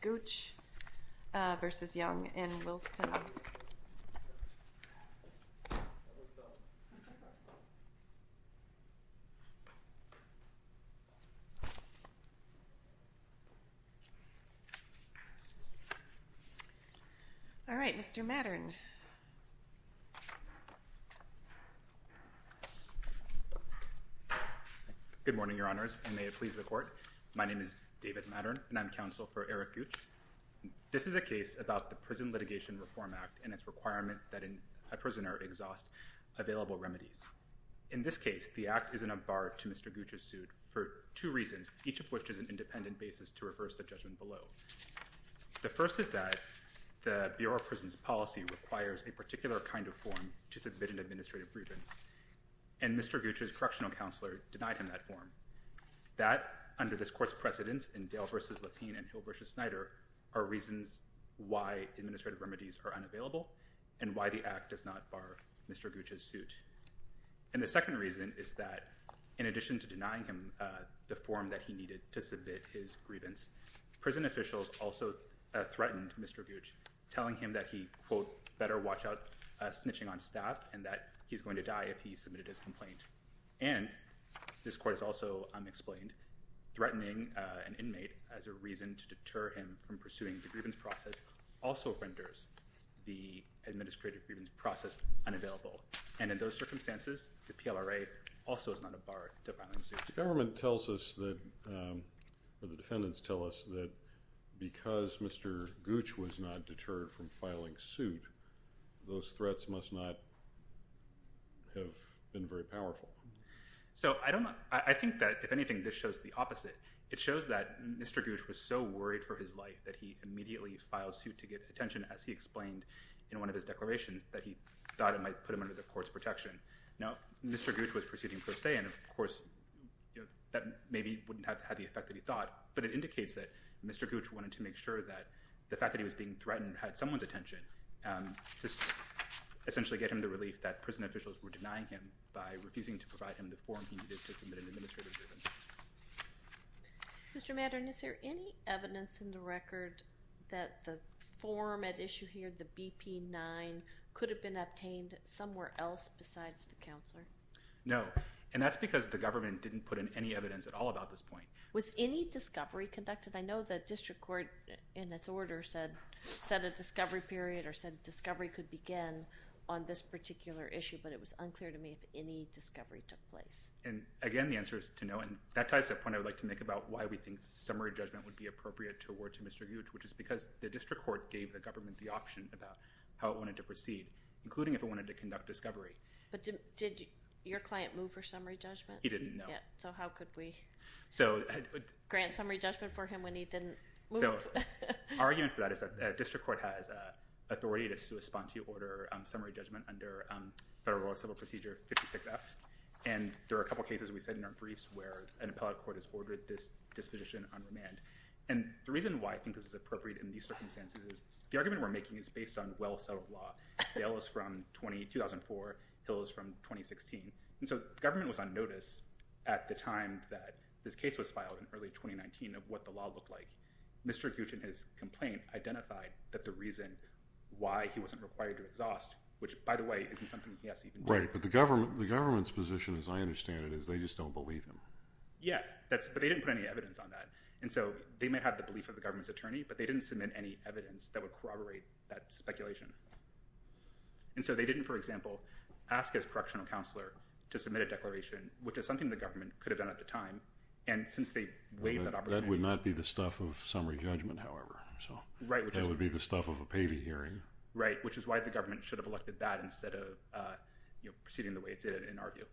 Gooch v. Young and Wilson. All right, Mr. Mattern. Good morning, Your Honors, and may it please the Court. My name is David Mattern, and I'm counsel for Eric Gooch. This is a case about the Prison Litigation Reform Act and its requirement that a prisoner exhaust available remedies. In this case, the Act is an abar to Mr. Gooch's suit for two reasons, each of which is an independent basis to reverse the judgment below. The first is that the Bureau of Prisons policy requires a particular kind of form to submit an administrative grievance, and Mr. Gooch's correctional counselor denied him that form. That, under this Court's precedence in Dale v. Lapine and Hill v. Snyder, are reasons why administrative remedies are unavailable and why the Act does not bar Mr. Gooch's suit. And the second reason is that, in addition to denying him the form that he needed to The officials also threatened Mr. Gooch, telling him that he, quote, better watch out snitching on staff and that he's going to die if he submitted his complaint. And this Court has also explained threatening an inmate as a reason to deter him from pursuing the grievance process also renders the administrative grievance process unavailable. And in those circumstances, the PLRA also is not a bar to filing a suit. The government tells us that, or the defendants tell us that because Mr. Gooch was not deterred from filing suit, those threats must not have been very powerful. So I don't know. I think that, if anything, this shows the opposite. It shows that Mr. Gooch was so worried for his life that he immediately filed suit to get attention, as he explained in one of his declarations, that he thought it might put him under the Court's protection. Now, Mr. Gooch was proceeding per se, and of course, you know, that maybe wouldn't have had the effect that he thought, but it indicates that Mr. Gooch wanted to make sure that the fact that he was being threatened had someone's attention to essentially get him the relief that prison officials were denying him by refusing to provide him the form he needed to submit an administrative grievance. Mr. Maddern, is there any evidence in the record that the form at issue here, the BP-9, could have been obtained somewhere else besides the counselor? No, and that's because the government didn't put in any evidence at all about this point. Was any discovery conducted? I know the district court, in its order, said a discovery period or said discovery could begin on this particular issue, but it was unclear to me if any discovery took place. And again, the answer is to no, and that ties to a point I would like to make about why we think summary judgment would be appropriate to award to Mr. Gooch, which is because the including if it wanted to conduct discovery. But did your client move for summary judgment? He didn't, no. So how could we grant summary judgment for him when he didn't move? So our argument for that is that district court has authority to correspond to order summary judgment under Federal Civil Procedure 56F, and there are a couple cases we said in our briefs where an appellate court has ordered this disposition on remand. And the reason why I think this is appropriate in these circumstances is the argument we're The ale was from 2004, the hill is from 2016, and so the government was on notice at the time that this case was filed in early 2019 of what the law looked like. Mr. Gooch in his complaint identified that the reason why he wasn't required to exhaust, which by the way, isn't something he has to even... Right, but the government's position, as I understand it, is they just don't believe him. Yeah, but they didn't put any evidence on that. And so they might have the belief of the government's attorney, but they didn't submit any evidence that would corroborate that speculation. And so they didn't, for example, ask his correctional counselor to submit a declaration, which is something the government could have done at the time. And since they waived that opportunity... That would not be the stuff of summary judgment, however. Right, which is... That would be the stuff of a payee hearing. Right, which is why the government should have elected that instead of proceeding the way it did, in our view.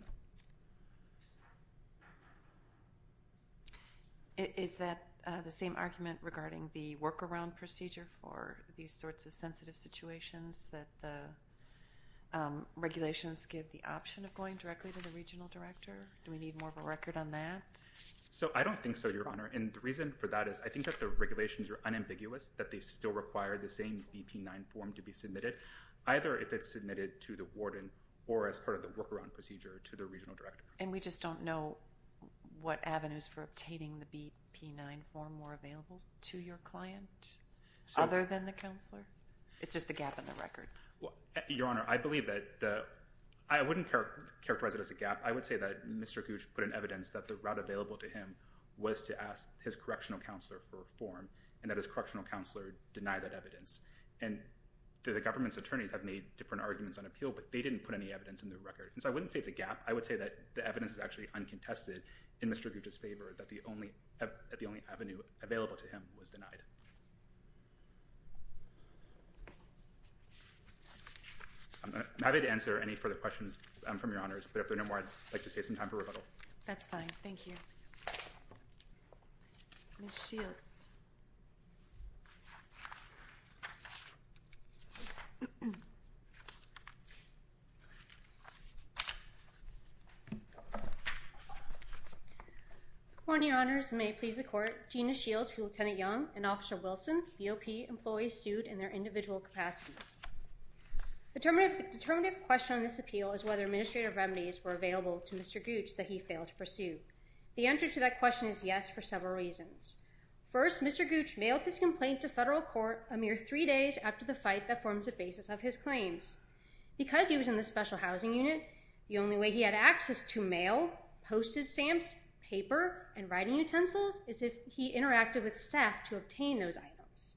Is that the same argument regarding the workaround procedure for these sorts of sensitive situations that the regulations give the option of going directly to the regional director? Do we need more of a record on that? So I don't think so, Your Honor. And the reason for that is I think that the regulations are unambiguous, that they still require the same VP-9 form to be submitted, either if it's submitted to the warden or as part of the workaround procedure to the regional director. And we just don't know what avenues for obtaining the VP-9 form were available to your client, other than the counselor? It's just a gap in the record. Your Honor, I believe that the... I wouldn't characterize it as a gap. I would say that Mr. Gooch put in evidence that the route available to him was to ask his correctional counselor for a form, and that his correctional counselor denied that evidence. And the government's attorneys have made different arguments on appeal, but they didn't put any evidence in their record. And so I wouldn't say it's a gap. I would say that the evidence is actually uncontested in Mr. Gooch's favor, that the only avenue available to him was denied. I'm happy to answer any further questions from Your Honors, but if there are no more, I'd like to save some time for rebuttal. That's fine. Thank you. Ms. Shields. Good morning, Your Honors, and may it please the Court. Gina Shields for Lieutenant Young and Officer Wilson, BOP employees sued in their individual capacities. The determinative question on this appeal is whether administrative remedies were available to Mr. Gooch that he failed to pursue. The answer to that question is yes for several reasons. First, Mr. Gooch mailed his complaint to federal court a mere three days after the fight that forms the basis of his claims. Because he was in the Special Housing Unit, the only way he had access to mail, postage stamps, paper, and writing utensils is if he interacted with staff to obtain those items.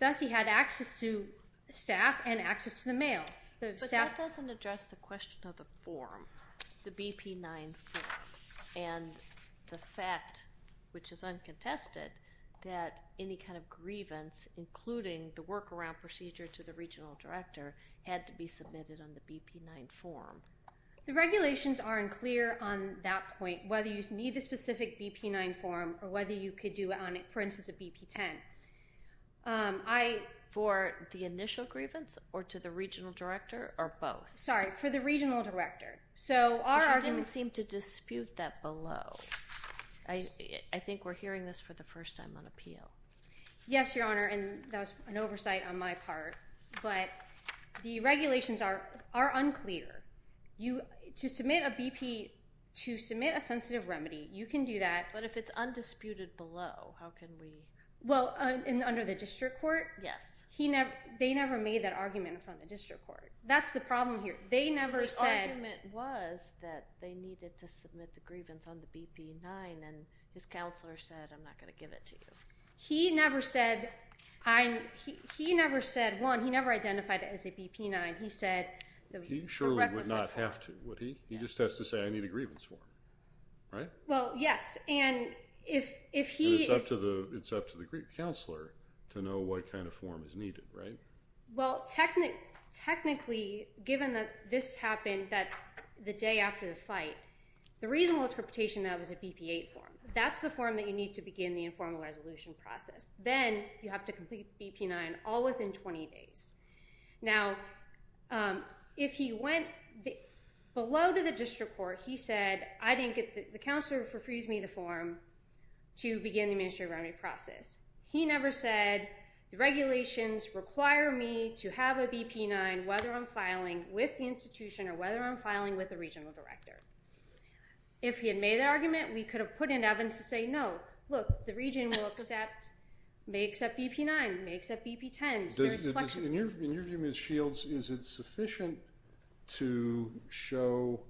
Thus, he had access to staff and access to the mail. But that doesn't address the question of the form, the BP-9 form, and the fact, which is uncontested, that any kind of grievance, including the workaround procedure to the regional director, had to be submitted on the BP-9 form. The regulations aren't clear on that point, whether you need a specific BP-9 form or whether you could do it on, for instance, a BP-10. For the initial grievance or to the regional director or both? Sorry, for the regional director. But you didn't seem to dispute that below. I think we're hearing this for the first time on appeal. Yes, Your Honor, and that was an oversight on my part. But the regulations are unclear. To submit a BP, to submit a sensitive remedy, you can do that. But if it's undisputed below, how can we? Well, under the district court? Yes. They never made that argument in front of the district court. That's the problem here. The argument was that they needed to submit the grievance on the BP-9, and his counselor said, I'm not going to give it to you. He never said, one, he never identified it as a BP-9. He said the requisite form. He surely would not have to, would he? He just has to say, I need a grievance form, right? Well, yes. It's up to the counselor to know what kind of form is needed, right? Well, technically, given that this happened the day after the fight, the reasonable interpretation of it was a BP-8 form. That's the form that you need to begin the informal resolution process. Then you have to complete BP-9 all within 20 days. Now, if he went below to the district court, he said, the counselor refused me the form to begin the administrative process. He never said, the regulations require me to have a BP-9, whether I'm filing with the institution or whether I'm filing with the regional director. If he had made that argument, we could have put it in evidence to say, no, look, the region may accept BP-9, may accept BP-10. In your view, Ms. Shields, is it sufficient to show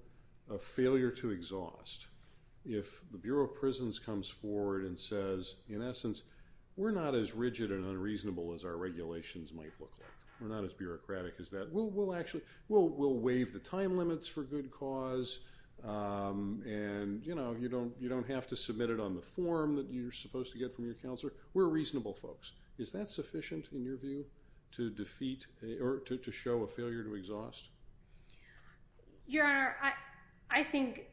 a failure to exhaust if the Bureau of Prisons comes forward and says, in essence, we're not as rigid and unreasonable as our regulations might look like. We're not as bureaucratic as that. We'll waive the time limits for good cause, and you don't have to submit it on the form that you're supposed to get from your counselor. We're reasonable folks. Is that sufficient, in your view, to defeat or to show a failure to exhaust? Your Honor, I think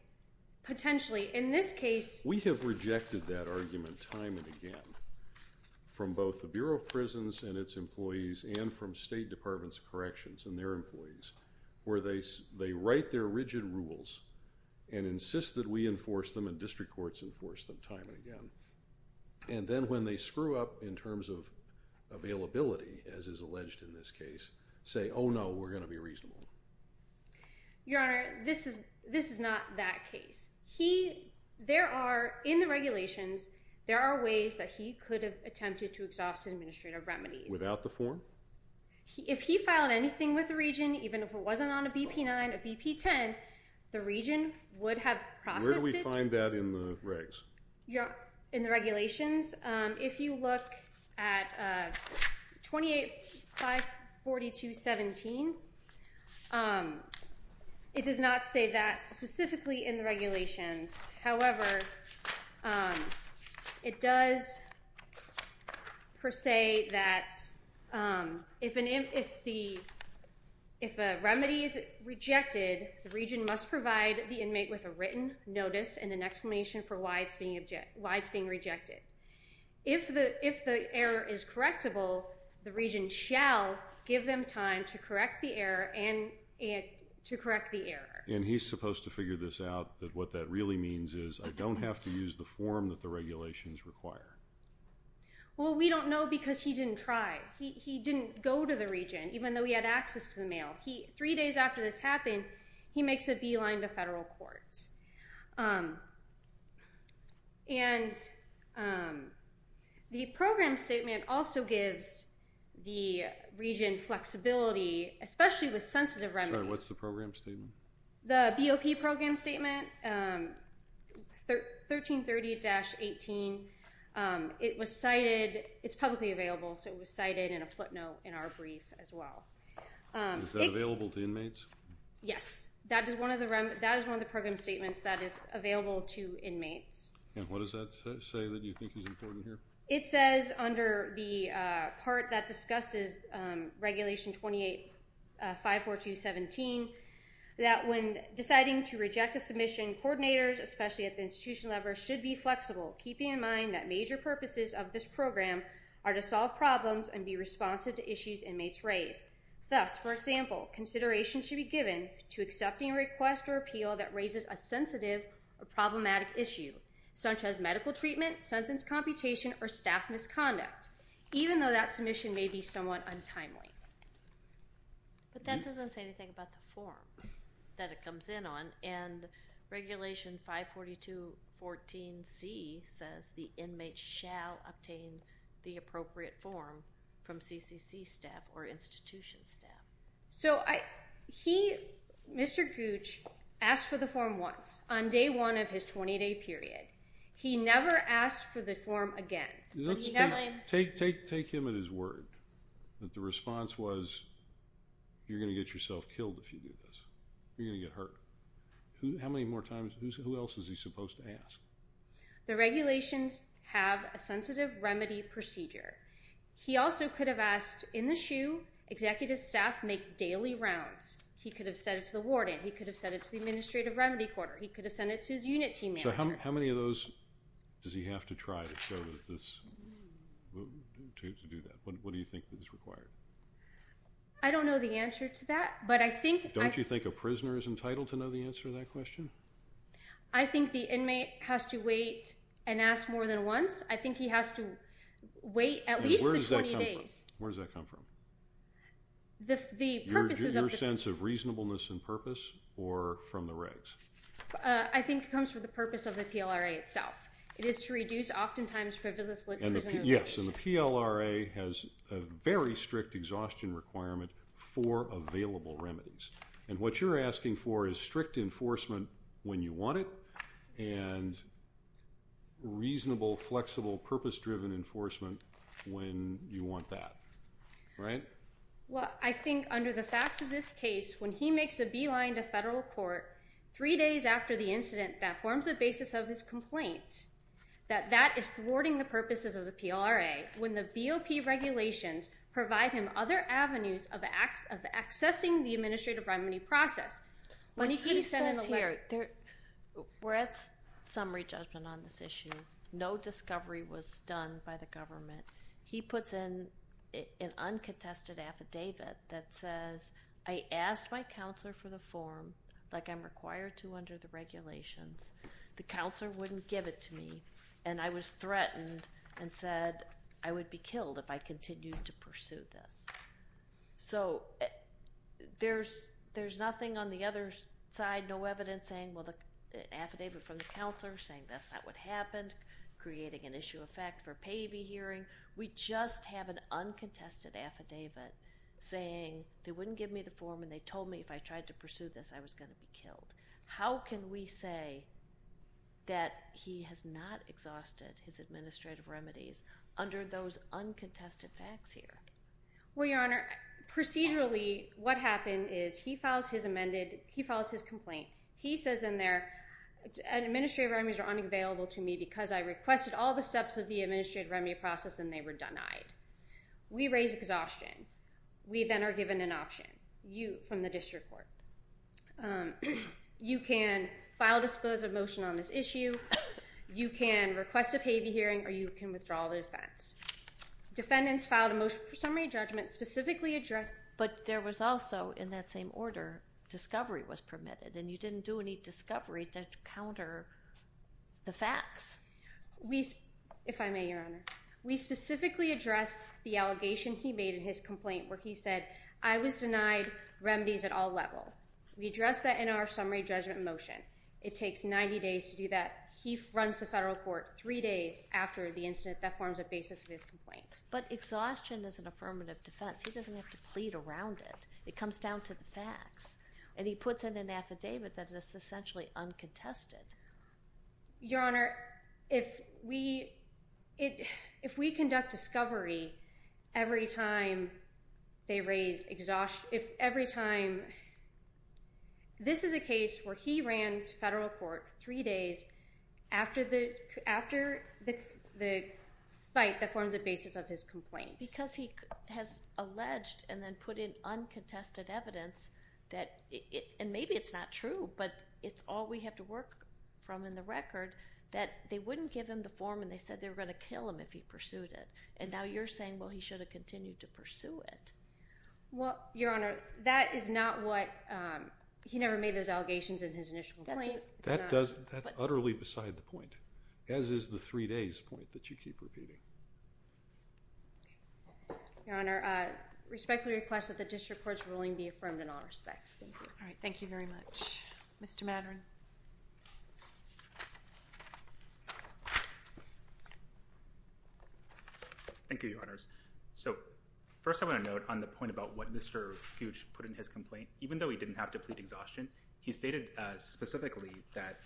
potentially. In this case, we have rejected that argument time and again from both the Bureau of Prisons and its employees and from State Departments of Corrections and their employees where they write their rigid rules and insist that we enforce them and district courts enforce them time and again. And then when they screw up in terms of availability, as is alleged in this case, say, oh no, we're going to be reasonable. Your Honor, this is not that case. There are, in the regulations, there are ways that he could have attempted to exhaust his administrative remedies. Without the form? If he filed anything with the region, even if it wasn't on a BP-9, a BP-10, the region would have processed it. Where do we find that in the regs? In the regulations. If you look at 28-542-17, it does not say that specifically in the regulations. However, it does per se that if a remedy is rejected, the region must provide the inmate with a written notice and an explanation for why it's being rejected. If the error is correctable, the region shall give them time to correct the error. And he's supposed to figure this out, that what that really means is I don't have to use the form that the regulations require. Well, we don't know because he didn't try. He didn't go to the region, even though he had access to the mail. Three days after this happened, he makes a beeline to federal courts. And the program statement also gives the region flexibility, especially with sensitive remedies. Sorry, what's the program statement? The BOP program statement, 1330-18, it was cited. It's publicly available, so it was cited in a footnote in our brief as well. Is that available to inmates? Yes. That is one of the program statements that is available to inmates. And what does that say that you think is important here? It says under the part that discusses Regulation 28-542-17 that when deciding to reject a submission, coordinators, especially at the institutional level, should be flexible, keeping in mind that major purposes of this program are to solve problems and be responsive to issues inmates raise. Thus, for example, consideration should be given to accepting a request or appeal that raises a sensitive or problematic issue, such as medical treatment, sentence computation, or staff misconduct, even though that submission may be somewhat untimely. But that doesn't say anything about the form that it comes in on. And Regulation 542-14C says the inmate shall obtain the appropriate form from CCC staff or institution staff. So Mr. Gooch asked for the form once on day one of his 20-day period. He never asked for the form again. Take him at his word that the response was, you're going to get yourself killed if you do this. You're going to get hurt. How many more times? Who else is he supposed to ask? The regulations have a sensitive remedy procedure. He also could have asked in the SHU, executive staff make daily rounds. He could have said it to the warden. He could have said it to the administrative remedy quarter. He could have said it to his unit team manager. So how many of those does he have to try to do that? What do you think is required? I don't know the answer to that. Don't you think a prisoner is entitled to know the answer to that question? I think the inmate has to wait and ask more than once. I think he has to wait at least the 20 days. Where does that come from? Your sense of reasonableness and purpose or from the regs? I think it comes from the purpose of the PLRA itself. It is to reduce oftentimes frivolous prisoners. Yes, and the PLRA has a very strict exhaustion requirement for available remedies. And what you're asking for is strict enforcement when you want it and reasonable, flexible, purpose-driven enforcement when you want that. Right? Well, I think under the facts of this case, when he makes a beeline to federal court three days after the incident that forms the basis of his complaint, that that is thwarting the purposes of the PLRA. When the BOP regulations provide him other avenues of accessing the administrative remedy process. When he says here, we're at summary judgment on this issue. No discovery was done by the government. He puts in an uncontested affidavit that says, I asked my counselor for the form like I'm required to under the regulations. The counselor wouldn't give it to me, and I was threatened and said I would be killed if I continued to pursue this. So there's nothing on the other side, no evidence saying, well, the affidavit from the counselor saying that's not what happened, creating an issue of fact for payee hearing. We just have an uncontested affidavit saying they wouldn't give me the form and they told me if I tried to pursue this, I was going to be killed. How can we say that he has not exhausted his administrative remedies under those uncontested facts here? Well, Your Honor, procedurally what happened is he files his complaint. He says in there administrative remedies are unavailable to me because I requested all the steps of the administrative remedy process and they were denied. We raise exhaustion. We then are given an option from the district court. You can file a dispositive motion on this issue. You can request a payee hearing, or you can withdraw the defense. Defendants filed a motion for summary judgment specifically addressed. But there was also in that same order discovery was permitted, and you didn't do any discovery to counter the facts. If I may, Your Honor, we specifically addressed the allegation he made in his complaint where he said I was denied remedies at all level. We addressed that in our summary judgment motion. It takes 90 days to do that. He runs the federal court three days after the incident. That forms a basis for his complaint. But exhaustion is an affirmative defense. He doesn't have to plead around it. It comes down to the facts, and he puts it in an affidavit that is essentially uncontested. Your Honor, if we conduct discovery every time they raise exhaustion, this is a case where he ran to federal court three days after the fight that forms a basis of his complaint. Because he has alleged and then put in uncontested evidence, and maybe it's not true but it's all we have to work from in the record, that they wouldn't give him the form and they said they were going to kill him if he pursued it. And now you're saying, well, he should have continued to pursue it. Well, Your Honor, that is not what he never made those allegations in his initial complaint. That's utterly beside the point, as is the three days point that you keep repeating. Your Honor, I respectfully request that the district court's ruling be affirmed in all respects. Thank you. All right. Thank you very much. Mr. Madren. Thank you, Your Honors. So first I want to note on the point about what Mr. Gooch put in his complaint, even though he didn't have to plead exhaustion, he stated specifically that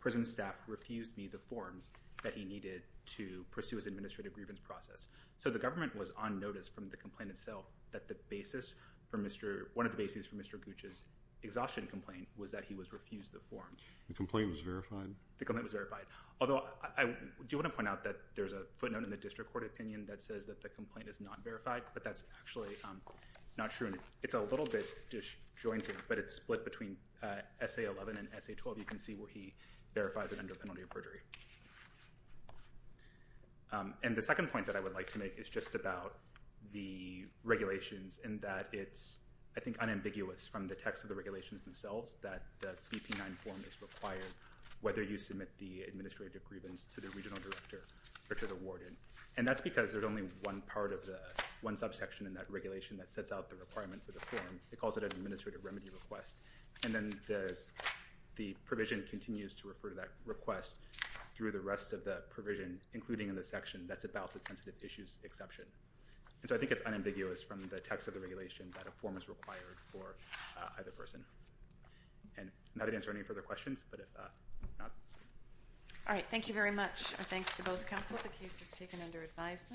prison staff refused me the forms that he needed to pursue his administrative grievance process. So the government was on notice from the complaint itself that the basis for Mr. One of the bases for Mr. Gooch's exhaustion complaint was that he was refused the form. The complaint was verified? The complaint was verified. Although I do want to point out that there's a footnote in the district court opinion that says that the complaint is not verified, but that's actually not true. It's a little bit disjointed, but it's split between S.A. 11 and S.A. 12. You can see where he verifies it under penalty of perjury. And the second point that I would like to make is just about the regulations and that it's, I think, unambiguous from the text of the regulations themselves that the BP-9 form is required, whether you submit the administrative grievance to the regional director or to the warden. And that's because there's only one part of the one subsection in that regulation that sets out the requirements of the form. It calls it an administrative remedy request. And then the provision continues to refer to that request through the rest of the provision, including in the section that's about the sensitive issues exception. And so I think it's unambiguous from the text of the regulation that a form is required for either person. And I'm happy to answer any further questions, but if not. All right. Thank you very much. Our thanks to both counsel. The case is taken under advisement.